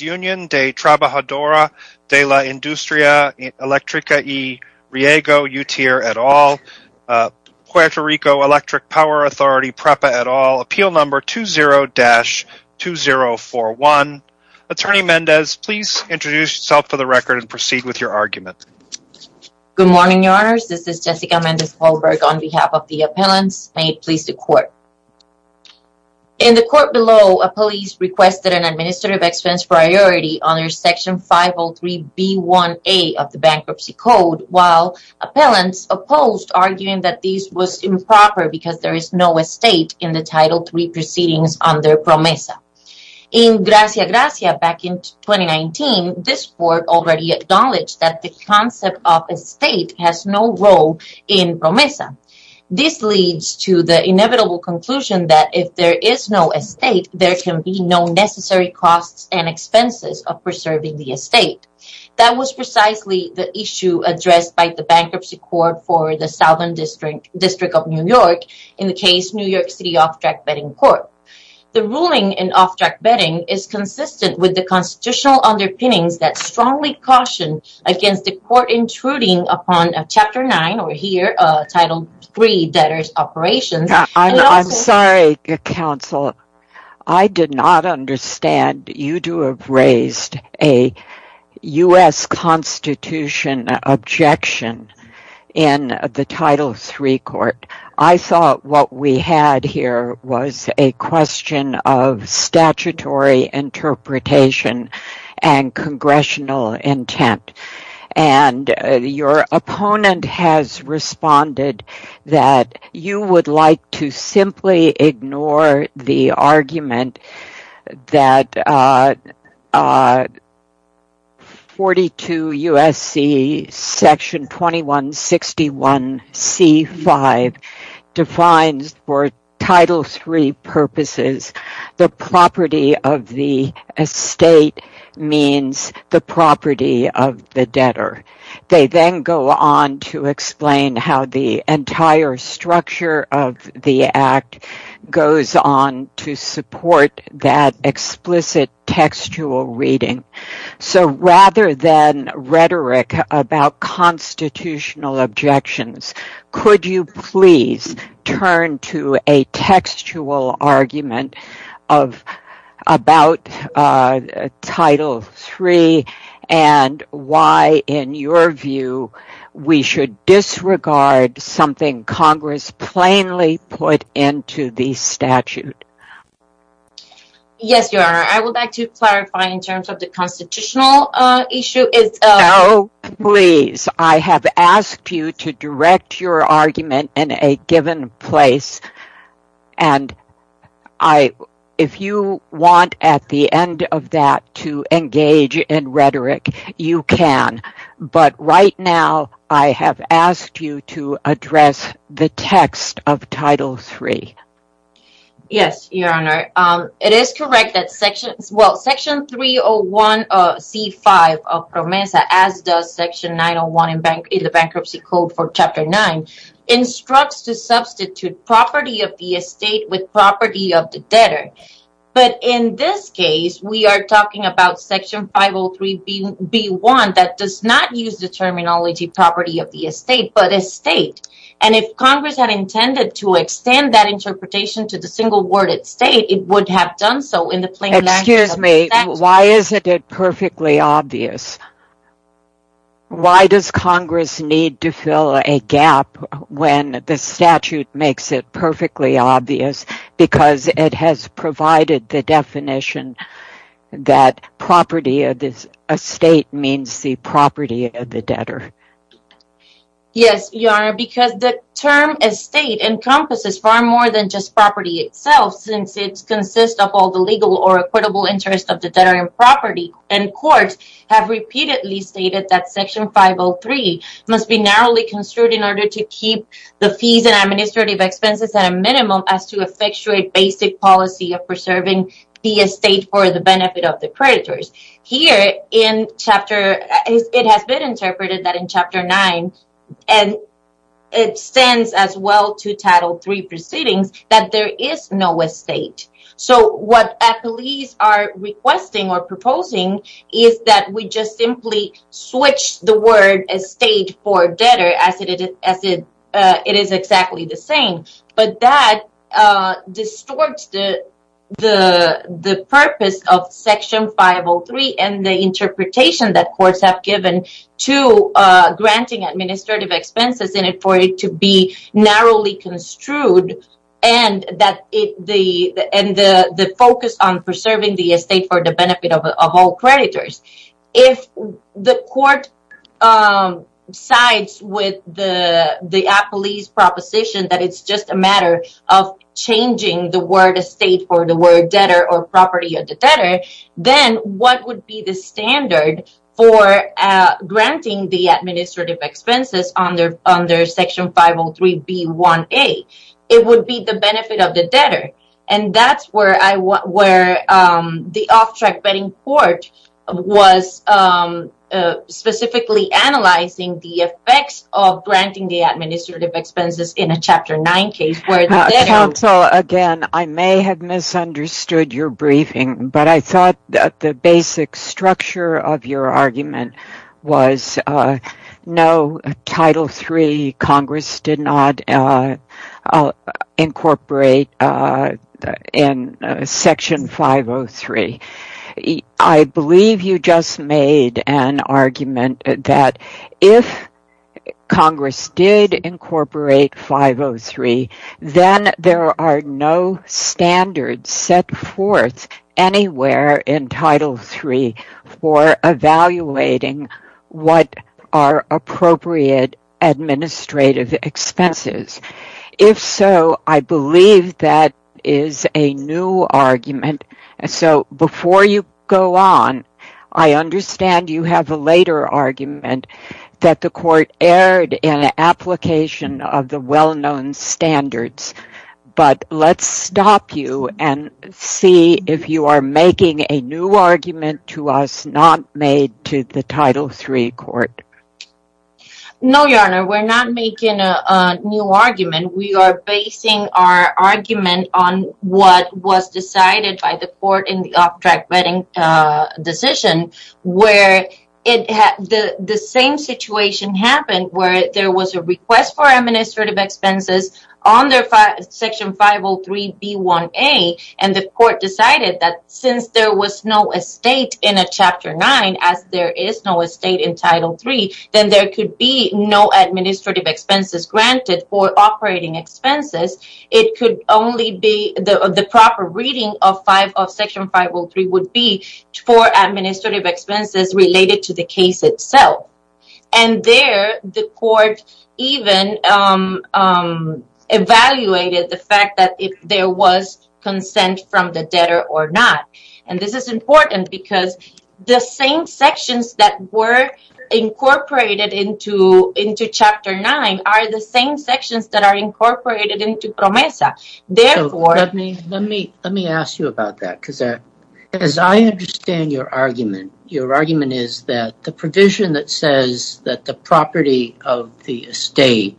UNION DE TRABAJADORES DE LA INDUSTRIA ELECTRICA Y RIEGO UTIER et al. Puerto Rico Electric Power Authority PREPA et al. Appeal No. 20-2041 ATTORNEY MENDEZ PLEASE INTRODUCE YOURSELF FOR THE RECORD AND PROCEED WITH YOUR ARGUMENT Good morning, your honors. This is Jessica Mendez Holberg on behalf of the appellants. May it please the court. In the court below, a police requested an administrative expense priority under Section 503B1A of the Bankruptcy Code, while appellants opposed, arguing that this was improper because there is no estate in the Title III proceedings under PROMESA. In Gracia Gracia back in 2019, this court already acknowledged that the concept of estate has no role in PROMESA. This leads to the inevitable conclusion that if there is no estate, there can be no necessary costs and expenses of preserving the estate. That was precisely the issue addressed by the Bankruptcy Court for the Southern District of New York, in the case New York City Off-Track Betting Court. The ruling in Off-Track Betting is consistent with the constitutional underpinnings that strongly caution against the court intruding upon Chapter 9, or here, Title III debtors' operations. I'm sorry, counsel. I did not understand. You do have raised a U.S. Constitution objection in the Title III court. I thought what we had here was a question of statutory interpretation and congressional intent. Your opponent has responded that you would like to simply ignore the argument that 42 U.S.C. section 2161C5 defines for Title III purposes, the property of the estate means the property of the debtor. They then go on to explain how the entire structure of the Act goes on to support that explicit textual reading. Rather than rhetoric about constitutional objections, could you please turn to a textual argument about Title III and why, in your view, we should disregard something Congress plainly put into the statute? Yes, Your Honor. I would like to clarify in terms of the constitutional issue. No, please. I have asked you to direct your argument in a given place, and if you want, at the end of that, to engage in rhetoric, you can. But right now, I have asked you to address the text of Title III. Yes, Your Honor. It is correct that Section 301C5 of PROMESA, as does Section 901 in the Bankruptcy Code for Chapter 9, instructs to substitute property of the estate with property of the debtor. But in this case, we are talking about Section 503B1 that does not use the terminology property of the estate, but estate. And if Congress had intended to extend that interpretation to the single word estate, it would have done so in the plain language of the statute. Excuse me. Why is it not perfectly obvious? Why does Congress need to fill a gap when the statute makes it perfectly obvious? Because it has provided the definition that property of the estate means the property of the debtor. Yes, Your Honor, because the term estate encompasses far more than just property itself, since it consists of all the legal or equitable interest of the debtor in property. And courts have repeatedly stated that Section 503 must be narrowly construed in order to keep the fees and administrative expenses at a minimum as to effectuate basic policy of preserving the estate for the benefit of the creditors. Here, it has been interpreted that in Chapter 9, and it stands as well to Title III proceedings, that there is no estate. So what at least are requesting or proposing is that we just simply switch the word estate for debtor as it is exactly the same. But that distorts the purpose of Section 503 and the interpretation that courts have given to granting administrative expenses in it for it to be narrowly construed and the focus on preserving the estate for the benefit of all creditors. If the court sides with the appellee's proposition that it's just a matter of changing the word estate for the word debtor or property of the debtor, then what would be the standard for granting the administrative expenses under Section 503B1A? It would be the benefit of the debtor and that's where the off-track betting court was specifically analyzing the effects of granting the administrative expenses in a Chapter 9 case. Counsel, again, I may have misunderstood your briefing, but I thought that the basic structure of your argument was no Title III Congress did not incorporate in Section 503. I believe you just made an argument that if Congress did incorporate 503, then there are no standards set forth anywhere in Title III for evaluating what are appropriate administrative expenses. If so, I believe that is a new argument, so before you go on, I understand you have a later argument that the court erred in application of the well-known standards, but let's stop you and see if you are making a new argument to us not made to the Title III court. No, Your Honor, we're not making a new argument. We are basing our argument on what was decided by the court in the off-track betting decision where the same situation happened where there was a request for administrative expenses under Section 503B1A, and the court decided that since there was no estate in a Chapter 9, as there is no estate in Title III, then there could be no administrative expenses granted for operating expenses. It could only be the proper reading of Section 503 would be for administrative expenses related to the case itself, and there the court even evaluated the fact that if there was consent from the debtor or not. And this is important because the same sections that were incorporated into Chapter 9 are the same sections that are incorporated into PROMESA. Let me ask you about that because as I understand your argument, your argument is that the provision that says that the property of the estate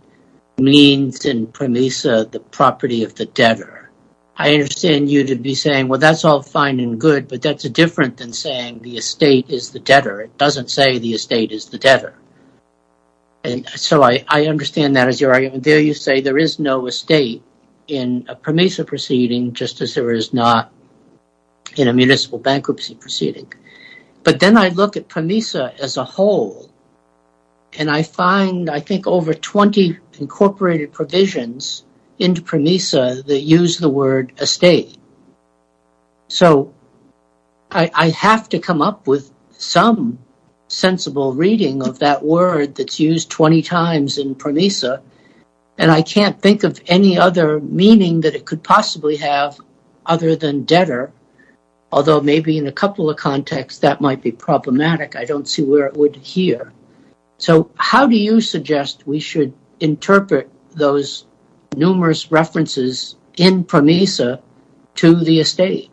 means in PROMESA the property of the debtor. I understand you to be saying, well, that's all fine and good, but that's different than saying the estate is the debtor. It doesn't say the estate is the debtor. So I understand that as your argument. There you say there is no estate in a PROMESA proceeding just as there is not in a municipal bankruptcy proceeding. But then I look at PROMESA as a whole and I find I think over 20 incorporated provisions in PROMESA that use the word estate. So I have to come up with some sensible reading of that word that's used 20 times in PROMESA, and I can't think of any other meaning that it could possibly have other than debtor, although maybe in a couple of contexts that might be problematic. I don't see where it would here. So how do you suggest we should interpret those numerous references in PROMESA to the estate?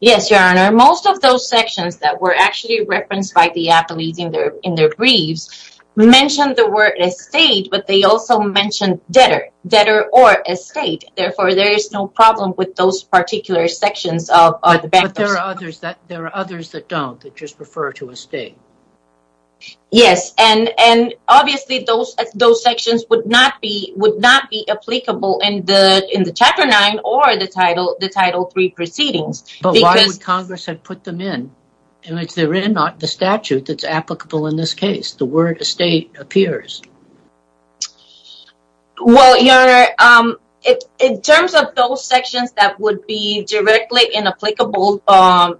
Yes, Your Honor, most of those sections that were actually referenced by the athletes in their briefs mentioned the word estate, but they also mentioned debtor, debtor or estate. Therefore, there is no problem with those particular sections. But there are others that don't, that just refer to estate. Yes, and obviously those sections would not be applicable in the Chapter 9 or the Title III proceedings. But why would Congress have put them in? They're in the statute that's applicable in this case. The word estate appears. Well, Your Honor, in terms of those sections that would be directly inapplicable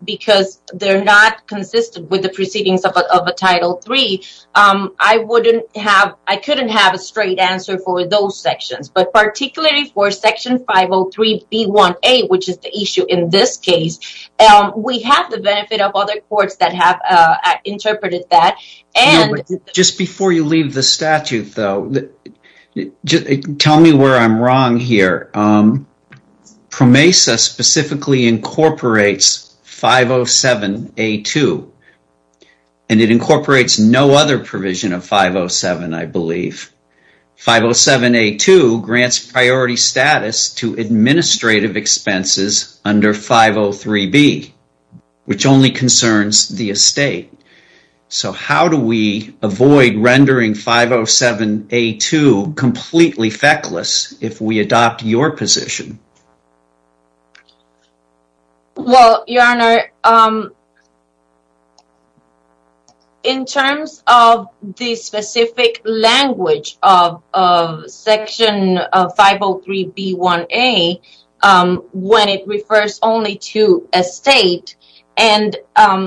because they're not consistent with the proceedings of a Title III, I couldn't have a straight answer for those sections. But particularly for Section 503B1A, which is the issue in this case, we have the benefit of other courts that have interpreted that. Just before you leave the statute, though, tell me where I'm wrong here. PROMESA specifically incorporates 507A2, and it incorporates no other provision of 507, I believe. 507A2 grants priority status to administrative expenses under 503B, which only concerns the estate. So how do we avoid rendering 507A2 completely feckless if we adopt your position? Well, Your Honor, in terms of the specific language of Section 503B1A, when it refers only to estate, and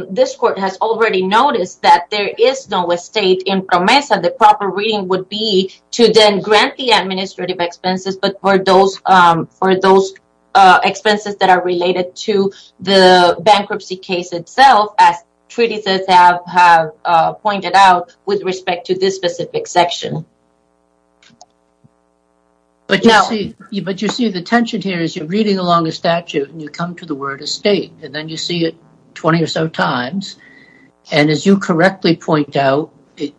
this Court has already noticed that there is no estate in PROMESA. The proper reading would be to then grant the administrative expenses, but for those expenses that are related to the bankruptcy case itself, as treaties have pointed out with respect to this specific section. But you see the tension here is you're reading along the statute and you come to the word estate, and then you see it 20 or so times, and as you correctly point out, it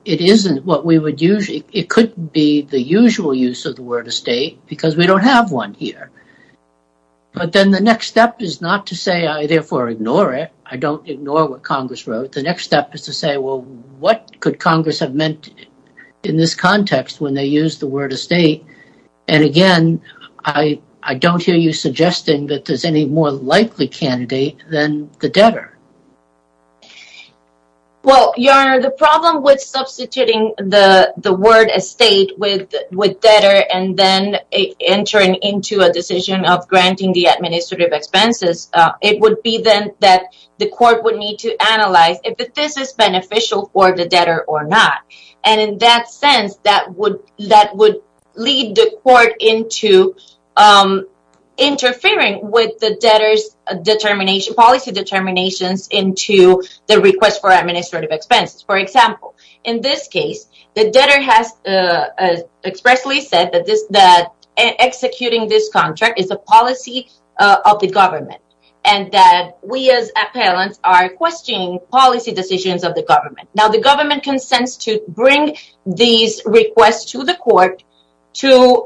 could be the usual use of the word estate because we don't have one here. But then the next step is not to say, I therefore ignore it. I don't ignore what Congress wrote. The next step is to say, well, what could Congress have meant in this context when they used the word estate? And again, I don't hear you suggesting that there's any more likely candidate than the debtor. Well, Your Honor, the problem with substituting the word estate with debtor and then entering into a decision of granting the administrative expenses, it would be then that the Court would need to analyze if this is beneficial for the debtor or not. And in that sense, that would lead the Court into interfering with the debtor's policy determinations into the request for administrative expenses. For example, in this case, the debtor has expressly said that executing this contract is a policy of the government and that we as appellants are questioning policy decisions of the government. Now, the government consents to bring these requests to the Court for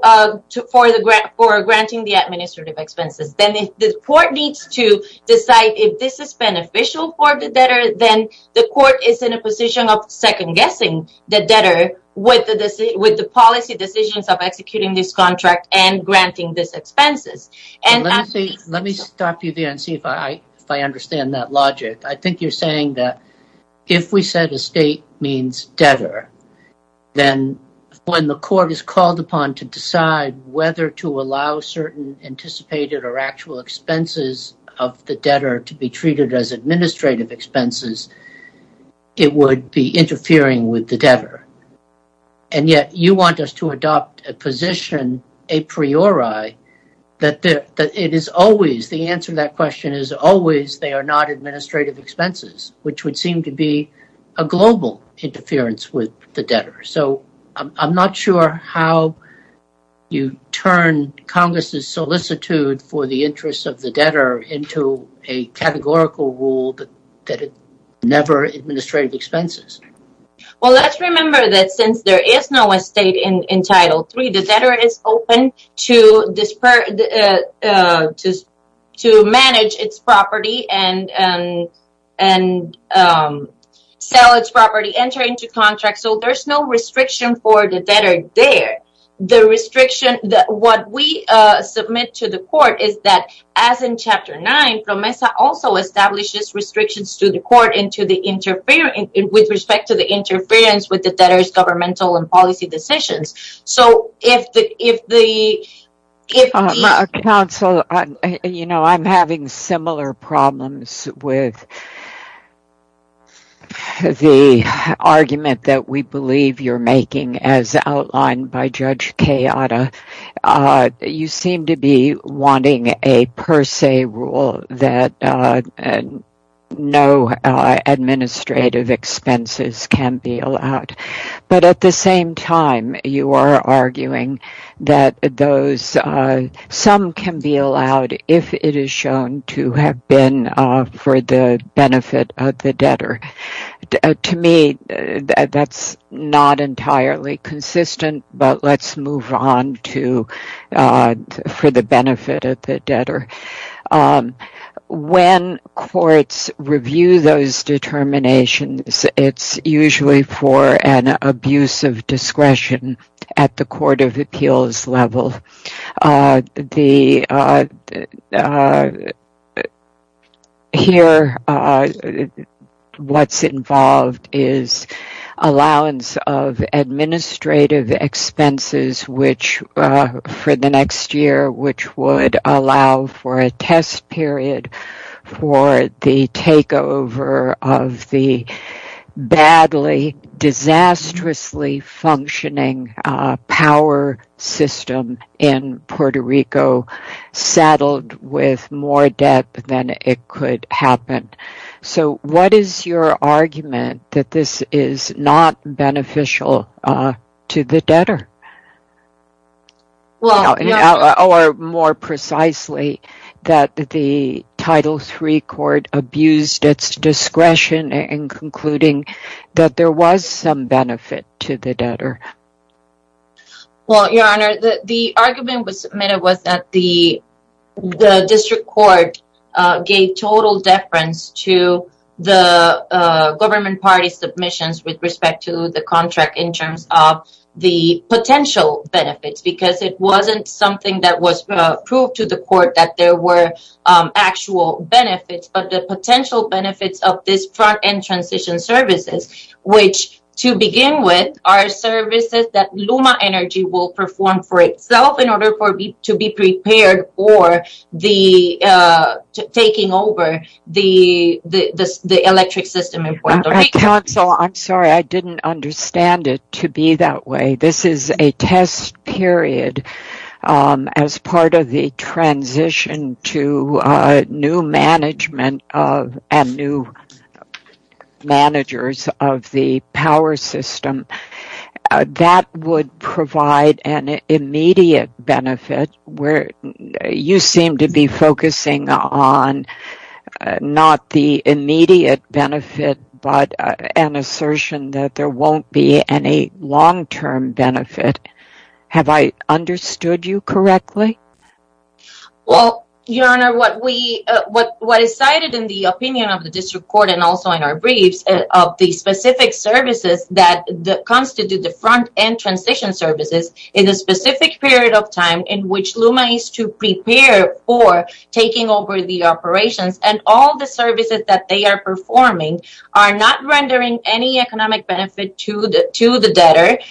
granting the administrative expenses. Then the Court needs to decide if this is beneficial for the debtor, then the Court is in a position of second-guessing the debtor with the policy decisions of executing this contract and granting these expenses. Let me stop you there and see if I understand that logic. I think you're saying that if we said estate means debtor, then when the Court is called upon to decide whether to allow certain anticipated or actual expenses of the debtor to be treated as administrative expenses, it would be interfering with the debtor. And yet, you want us to adopt a position, a priori, that the answer to that question is always they are not administrative expenses, which would seem to be a global interference with the debtor. I'm not sure how you turn Congress' solicitude for the interests of the debtor into a categorical rule that it's never administrative expenses. Well, let's remember that since there is no estate in Title III, the debtor is open to manage its property and sell its property, enter into contracts, so there's no restriction for the debtor there. What we submit to the Court is that, as in Chapter 9, PROMESA also establishes restrictions to the Court with respect to the interference with the debtor's governmental and policy decisions. Counsel, I'm having similar problems with the argument that we believe you're making as outlined by Judge Cayatta. You seem to be wanting a per se rule that no administrative expenses can be allowed, but at the same time, you are arguing that some can be allowed if it is shown to have been for the benefit of the debtor. To me, that's not entirely consistent, but let's move on for the benefit of the debtor. When courts review those determinations, it's usually for an abuse of discretion at the court of appeals level. Here, what's involved is allowance of administrative expenses for the next year, which would allow for a test period for the takeover of the badly, disastrously functioning power system. In this case, the Court of Appeals in Puerto Rico saddled with more debt than it could happen. What is your argument that this is not beneficial to the debtor? Or, more precisely, that the Title III Court abused its discretion in concluding that there was some benefit to the debtor? Your Honor, the argument that was submitted was that the District Court gave total deference to the Government Party's submissions with respect to the contract in terms of the potential benefits. It wasn't something that was proved to the Court that there were actual benefits, but the potential benefits of this front-end transition services, which, to begin with, are services that LUMA Energy will perform for itself in order to be prepared for taking over the electric system in Puerto Rico. Counsel, I'm sorry. I didn't understand it to be that way. This is a test period as part of the transition to new management and new managers of the power system. That would provide an immediate benefit. You seem to be focusing on not the immediate benefit, but an assertion that there won't be any long-term benefit. Have I understood you correctly? Your Honor, what is cited in the opinion of the District Court and also in our briefs of the specific services that constitute the front-end transition services in a specific period of time in which LUMA is to prepare for taking over the operations and all the services that they are performing are not rendering any economic benefit to the debtor.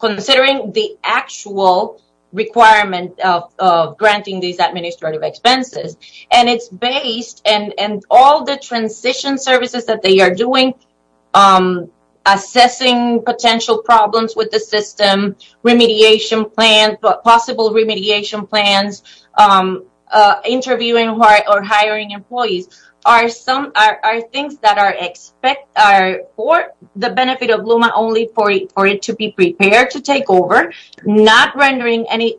Considering the actual requirement of granting these administrative expenses and all the transition services that they are doing, assessing potential problems with the system, remediation plans, possible remediation plans, interviewing or hiring employees, are things that are for the benefit of LUMA only for it to be prepared to take over, not rendering any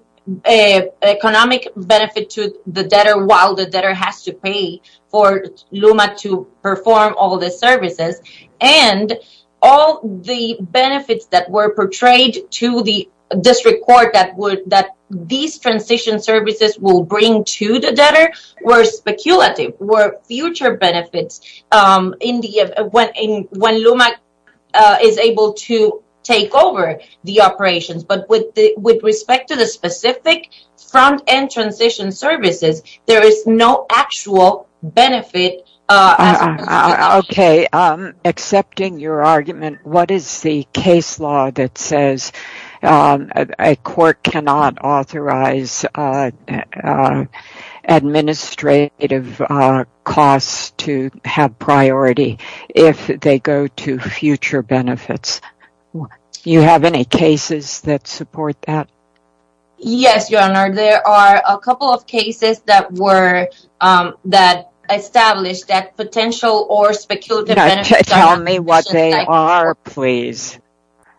economic benefit to the debtor while the debtor has to pay for LUMA to perform all the services. And all the benefits that were portrayed to the District Court that these transition services will bring to the debtor were speculative, were future benefits when LUMA is able to take over the operations. But with respect to the specific front-end transition services, there is no actual benefit. Accepting your argument, what is the case law that says a court cannot authorize administrative costs to have priority if they go to future benefits? Do you have any cases that support that? Yes, Your Honor. There are a couple of cases that establish that potential or speculative benefits are not sufficient.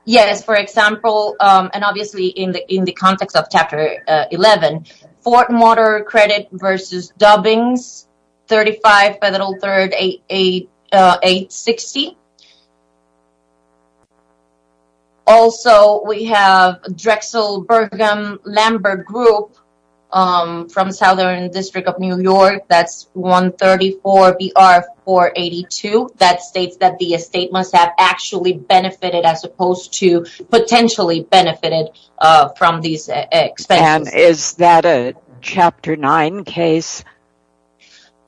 Yes, for example, and obviously in the context of Chapter 11, Fort Motor Credit v. Dubbings 35 Federal 3rd 860. Also, we have Drexel Burgum Lambert Group from Southern District of New York, that's 134 BR 482, that states that the estate must have actually benefited as opposed to potentially benefited from these expenses. And is that a Chapter 9 case?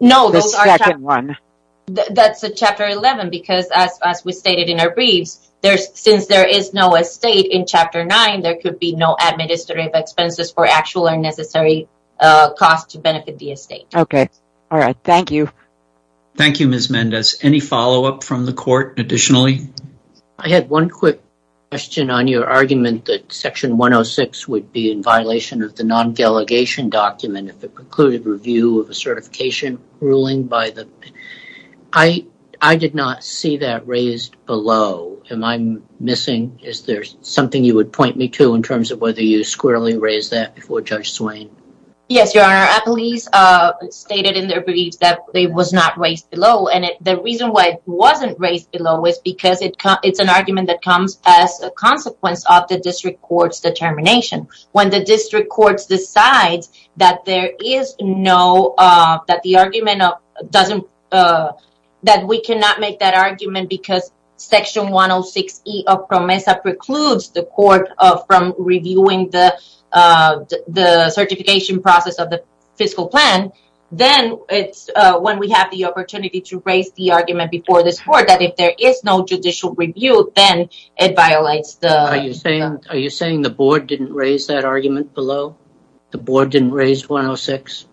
No, those are... The second one. That's a Chapter 11 because as we stated in our briefs, since there is no estate in Chapter 9, there could be no administrative expenses for actual or necessary costs to benefit the estate. Okay. All right. Thank you. Thank you, Ms. Mendez. Any follow-up from the court additionally? I had one quick question on your argument that Section 106 would be in violation of the non-delegation document if it precluded review of a certification ruling by the... I did not see that raised below. Am I missing? Is there something you would point me to in terms of whether you squarely raised that before Judge Swain? Yes, Your Honor. Appellees stated in their briefs that it was not raised below, and the reason why it wasn't raised below is because it's an argument that comes as a consequence of the district court's determination. When the district courts decide that there is no... that the argument doesn't... that we cannot make that argument because Section 106E of PROMESA precludes the court from reviewing the certification process of the fiscal plan, then it's when we have the opportunity to raise the argument before this court that if there is no judicial review, then it violates the... Are you saying the board didn't raise that argument below? The board didn't raise 106?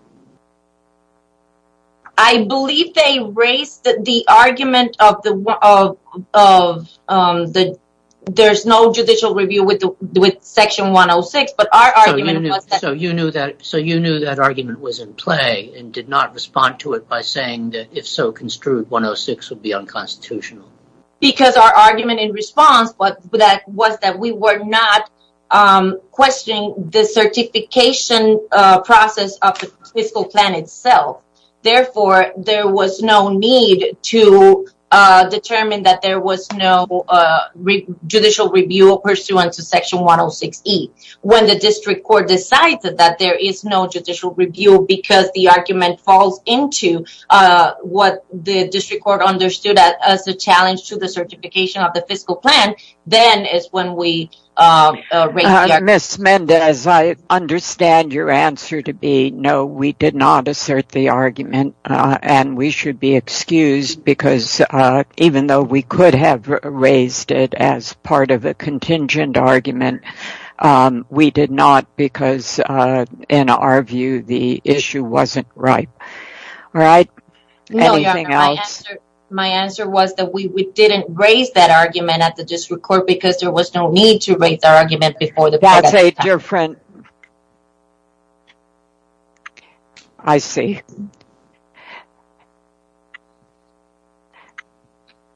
I believe they raised the argument of the... there's no judicial review with Section 106, but our argument was that... So you knew that argument was in play and did not respond to it by saying that if so construed, 106 would be unconstitutional? Because our argument in response was that we were not questioning the certification process of the fiscal plan itself. Therefore, there was no need to determine that there was no judicial review pursuant to Section 106E. When the district court decides that there is no judicial review because the argument falls into what the district court understood as a challenge to the certification of the fiscal plan, then it's when we raise the argument. We did not because, in our view, the issue wasn't right. My answer was that we didn't raise that argument at the district court because there was no need to raise the argument before the board at the time. Your friend... I see.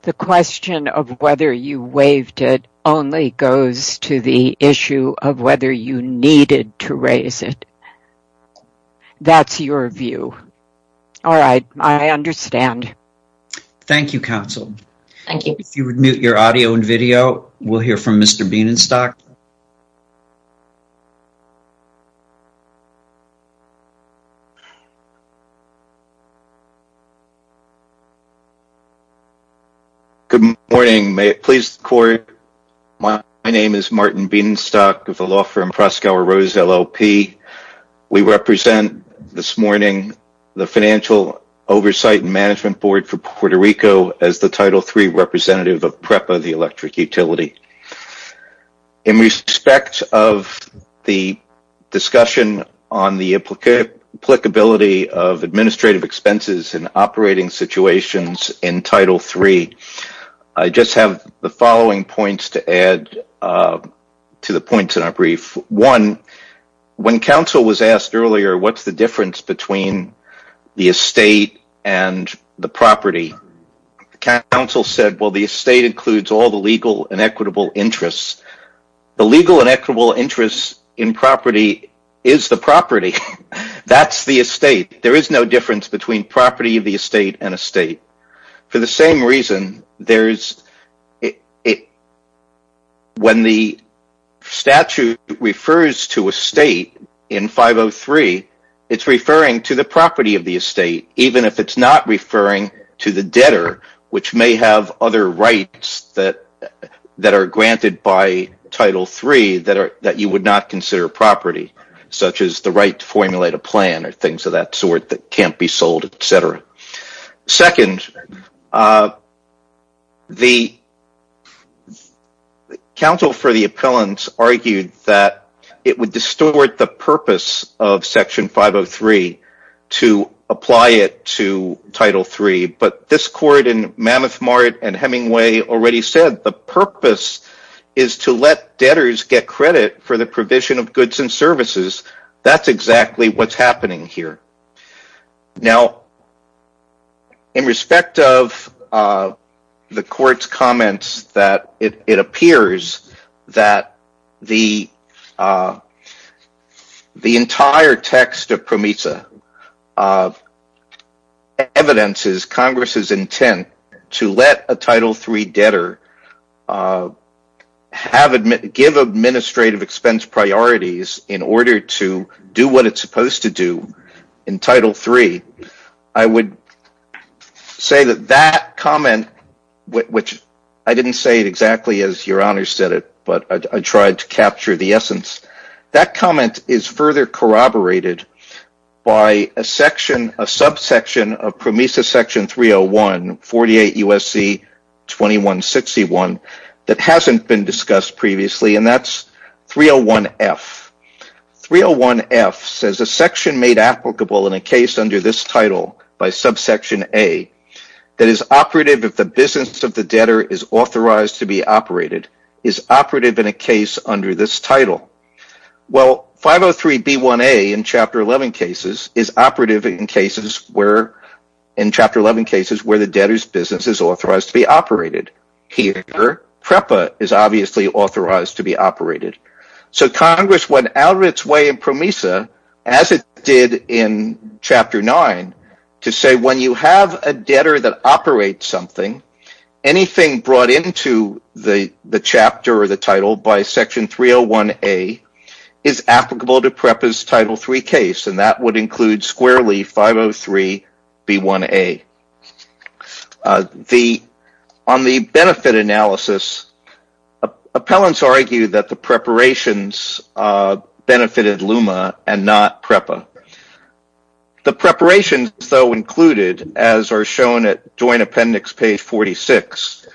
The question of whether you waived it only goes to the issue of whether you needed to raise it. That's your view. All right, I understand. Thank you, counsel. Thank you. If you would mute your audio and video, we'll hear from Mr. Bienenstock. Mr. Bienenstock. Good morning. My name is Martin Bienenstock of the law firm Proskauer Rose, LLP. We represent this morning the Financial Oversight and Management Board for Puerto Rico as the Title III representative of PREPA, the electric utility. In respect of the discussion on the applicability of administrative expenses in operating situations in Title III, I just have the following points to add to the points in our brief. One, when counsel was asked earlier what's the difference between the estate and the property, counsel said, well, the estate includes all the legal and equitable interests. The legal and equitable interest in property is the property. That's the estate. There is no difference between property of the estate and estate. For the same reason, when the statute refers to estate in 503, it's referring to the property of the estate, even if it's not referring to the debtor, which may have other rights that are granted by Title III that you would not consider property, such as the right to formulate a plan or things of that sort that can't be sold, etc. Second, the counsel for the appellant argued that it would distort the purpose of Section 503 to apply it to Title III, but this court in Mammoth Mart and Hemingway already said the purpose is to let debtors get credit for the provision of goods and services. That's exactly what's happening here. Now, in respect of the court's comments, it appears that the entire text of PROMISA evidences Congress' intent to let a Title III debtor give administrative expense priorities in order to do what it's supposed to do. In Title III, I would say that that comment is further corroborated by a subsection of PROMISA Section 301, 48 U.S.C. 2161, that hasn't been discussed previously. That's 301F. 301F says, a section made applicable in a case under this title by subsection A that is operative if the business of the debtor is authorized to be operated is operative in a case under this title. 503B1A in Chapter 11 cases is operative in Chapter 11 cases where the debtor's business is authorized to be operated. Here, PREPA is obviously authorized to be operated. Congress went out of its way in PROMISA, as it did in Chapter 9, to say when you have a debtor that operates something, anything brought into the chapter or the title by Section 301A is applicable to PREPA's Title III case. That would include squarely 503B1A. On the benefit analysis, appellants argue that the preparations benefited LUMA and not PREPA. The preparations, though, included, as are shown at Joint Appendix page 46,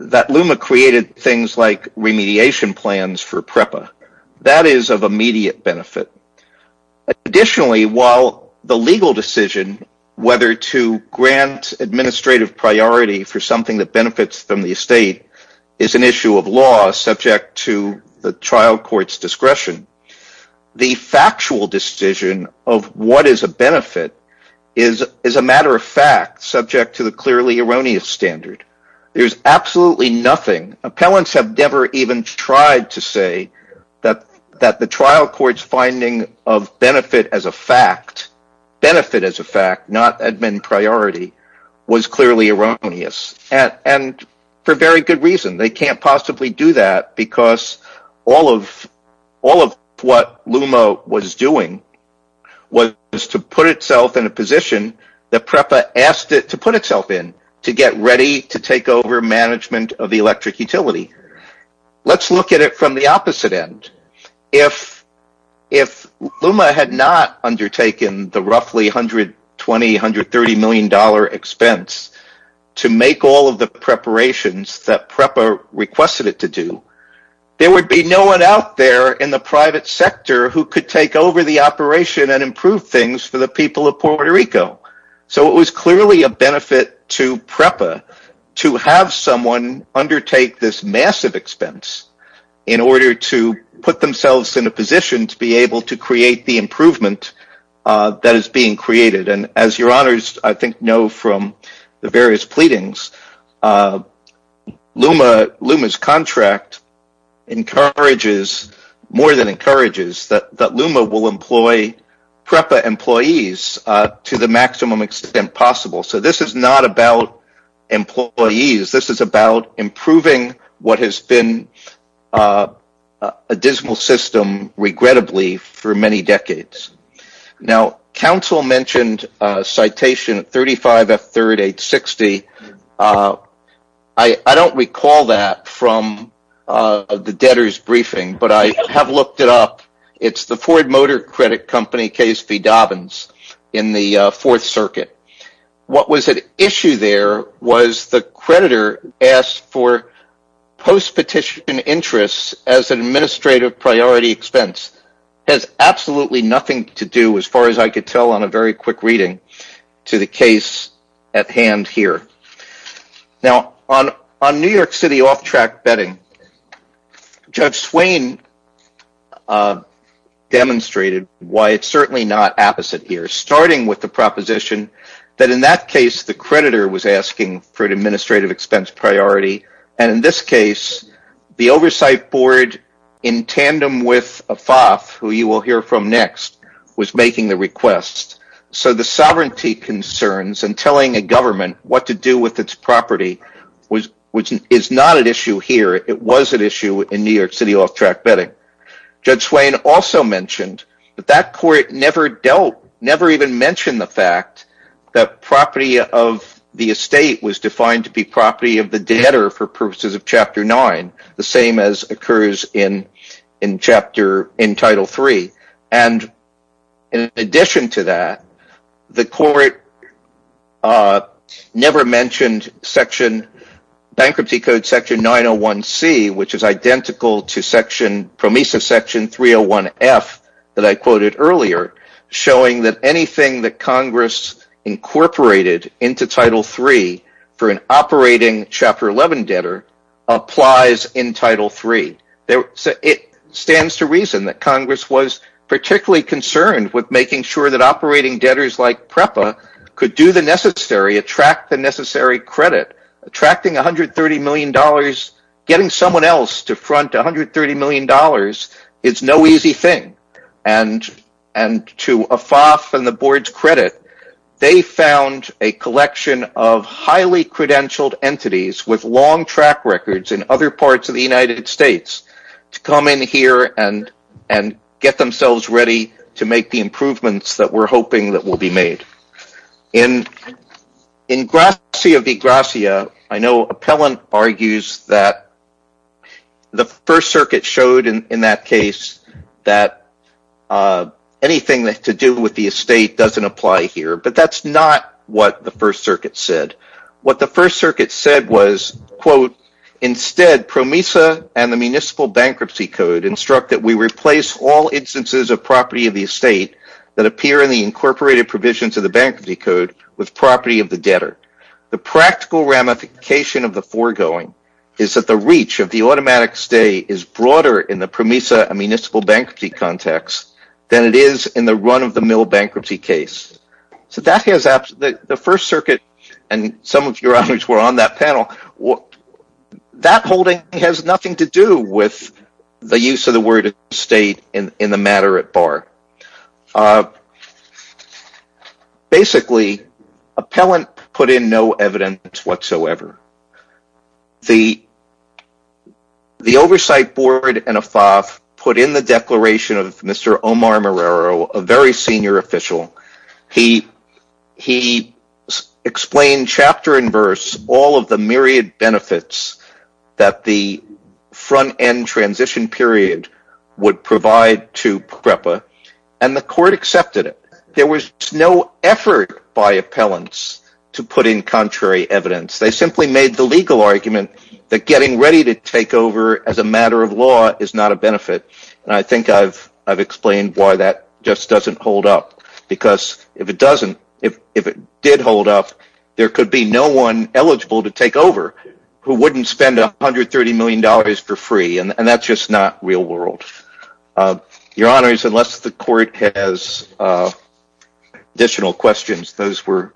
that LUMA created things like remediation plans for PREPA. That is of immediate benefit. Additionally, while the legal decision whether to grant administrative priority for something that benefits from the estate is an issue of law subject to the trial court's discretion, the factual decision of what is a benefit is, as a matter of fact, subject to the clearly erroneous standard. There's absolutely nothing. Appellants have never even tried to say that the trial court's finding of benefit as a fact, not admin priority, was clearly erroneous, and for very good reason. They can't possibly do that because all of what LUMA was doing was to put itself in a position that PREPA asked it to put itself in, to get ready to take over management of the electric utility. Let's look at it from the opposite end. If LUMA had not undertaken the roughly $120-$130 million expense to make all of the preparations that PREPA requested it to do, there would be no one out there in the private sector who could take over the operation and improve things for the people of Puerto Rico. It was clearly a benefit to PREPA to have someone undertake this massive expense in order to put themselves in a position to be able to create the improvement that is being created. As your honors know from the various pleadings, LUMA's contract more than encourages that LUMA will employ PREPA employees to the maximum extent possible. This is not about employees. This is about improving what has been a dismal system, regrettably, for many decades. Council mentioned citation 35F3-860. I don't recall that from the debtors' briefing, but I have looked it up. It's the Ford Motor Credit Company case v. Dobbins in the Fourth Circuit. What was at issue there was the creditor asked for post-petition interest as an administrative priority expense. This has absolutely nothing to do, as far as I could tell on a very quick reading, to the case at hand here. On New York City off-track betting, Judge Swain demonstrated why it's certainly not the opposite here, starting with the proposition that in that case, the creditor was asking for an administrative expense priority. In this case, the oversight board, in tandem with FAF, who you will hear from next, was making the request. The sovereignty concerns and telling a government what to do with its property is not an issue here. It was an issue in New York City off-track betting. Judge Swain also mentioned that that court never even mentioned the fact that property of the estate was defined to be property of the debtor for purposes of Chapter 9, the same as occurs in Title III. In addition to that, the court never mentioned Bankruptcy Code Section 901C, which is identical to Promesa Section 301F that I quoted earlier, showing that anything that Congress incorporated into Title III for an operating Chapter 11 debtor applies in Title III. It stands to reason that Congress was particularly concerned with making sure that operating debtors like PREPA could do the necessary, attract the necessary credit. Getting someone else to front $130 million is no easy thing. To AFAF and the board's credit, they found a collection of highly credentialed entities with long track records in other parts of the United States to come in here and get themselves ready to make the improvements that we're hoping will be made. In Gracia v. Gracia, I know Appellant argues that the First Circuit showed in that case that anything to do with the estate doesn't apply here, but that's not what the First Circuit said. What the First Circuit said was, quote, The First Circuit and some of your others were on that panel. That holding has nothing to do with the use of the word estate in the matter at bar. Basically, Appellant put in no evidence whatsoever. The oversight board and AFAF put in the declaration of Mr. Omar Morero, a very senior official. He explained chapter and verse all of the myriad benefits that the front-end transition period would provide to PREPA, and the court accepted it. There was no effort by Appellants to put in contrary evidence. He made the legal argument that getting ready to take over as a matter of law is not a benefit. I think I've explained why that just doesn't hold up. If it did hold up, there could be no one eligible to take over who wouldn't spend $130 million for free, and that's just not real world. Your Honors, unless the court has additional questions, those were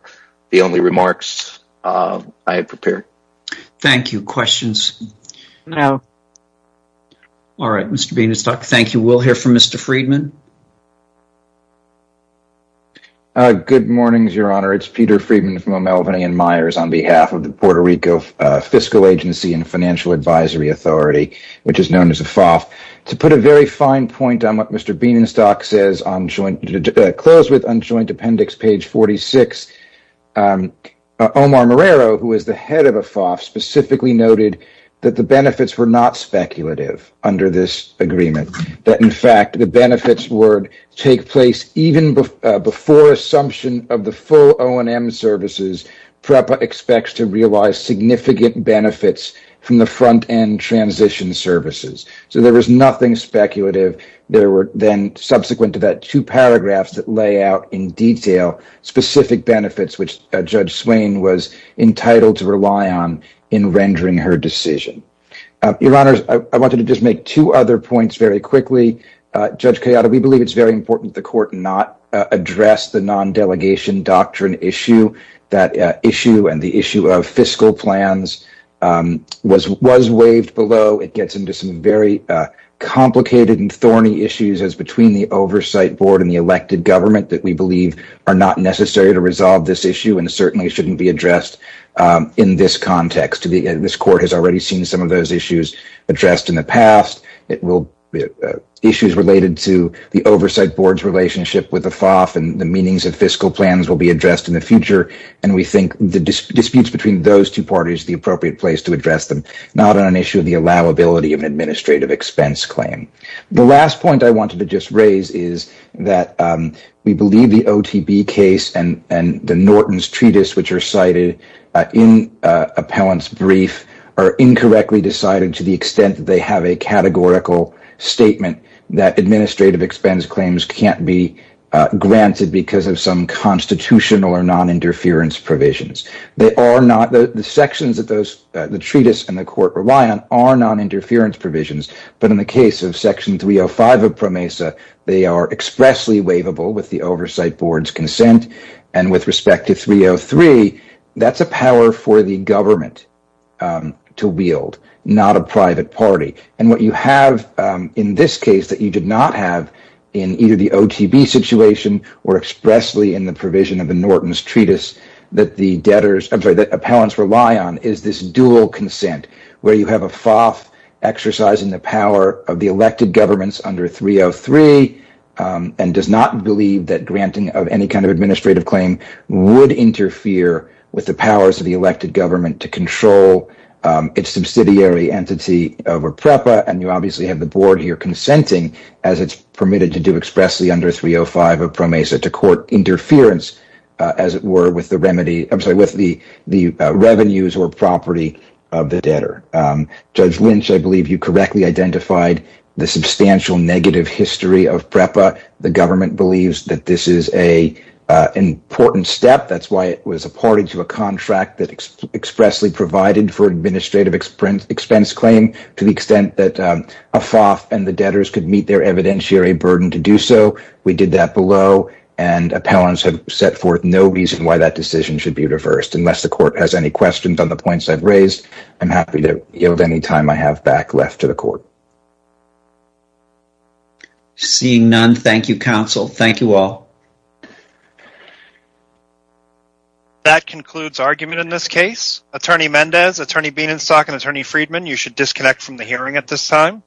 the only remarks I had prepared. Thank you. Questions? No. All right, Mr. Benestock, thank you. We'll hear from Mr. Friedman. Good morning, Your Honor. It's Peter Friedman from Melvin and Myers on behalf of the Puerto Rico Fiscal Agency and Financial Advisory Authority, which is known as AFAF. I want to make a very fine point on what Mr. Benestock says on joint appendix page 46. Omar Marrero, who is the head of AFAF, specifically noted that the benefits were not speculative under this agreement. In fact, the benefits would take place even before assumption of the full O&M services PREPA expects to realize significant benefits from the front-end transition services. So there was nothing speculative. There were then, subsequent to that, two paragraphs that lay out in detail specific benefits, which Judge Swain was entitled to rely on in rendering her decision. Your Honors, I wanted to just make two other points very quickly. Judge Kayada, we believe it's very important that the Court not address the non-delegation doctrine issue. That issue and the issue of fiscal plans was waived below. It gets into some very complicated and thorny issues as between the Oversight Board and the elected government that we believe are not necessary to resolve this issue and certainly shouldn't be addressed in this context. This Court has already seen some of those issues addressed in the past. Issues related to the Oversight Board's relationship with AFAF and the meanings of fiscal plans will be addressed in the future. We think the disputes between those two parties are the appropriate place to address them, not on an issue of the allowability of an administrative expense claim. The last point I wanted to just raise is that we believe the OTB case and the Norton's Treatise, which are cited in Appellant's brief, are incorrectly decided to the extent that they have a categorical statement that administrative expense claims can't be granted because of some constitutional or non-interference provisions. The sections that the Treatise and the Court rely on are non-interference provisions, but in the case of Section 305 of PROMESA, they are expressly waivable with the Oversight Board's consent. With respect to Section 303, that's a power for the government to wield, not a private party. What you have in this case that you did not have in either the OTB situation or expressly in the provision of the Norton's Treatise that the appellants rely on is this dual consent where you have AFAF exercising the power of the elected governments under 303 and does not believe that granting of any kind of administrative claim would interfere with the powers of the elected government to control its subsidiary entity over PROMESA. You have PREPA and you obviously have the Board here consenting as it's permitted to do expressly under 305 of PROMESA to court interference as it were with the revenues or property of the debtor. Judge Lynch, I believe you correctly identified the substantial negative history of PREPA. The government believes that this is an important step. That's why it was a party to a contract that expressly provided for administrative expense claim to the extent that AFAF and the debtors could meet their evidentiary burden to do so. We did that below and appellants have set forth no reason why that decision should be reversed. Unless the court has any questions on the points I've raised, I'm happy to yield any time I have back left to the court. Seeing none, thank you, counsel. Thank you all. That concludes argument in this case. Attorney Mendez, Attorney Bienenstock, and Attorney Friedman, you should disconnect from the hearing at this time.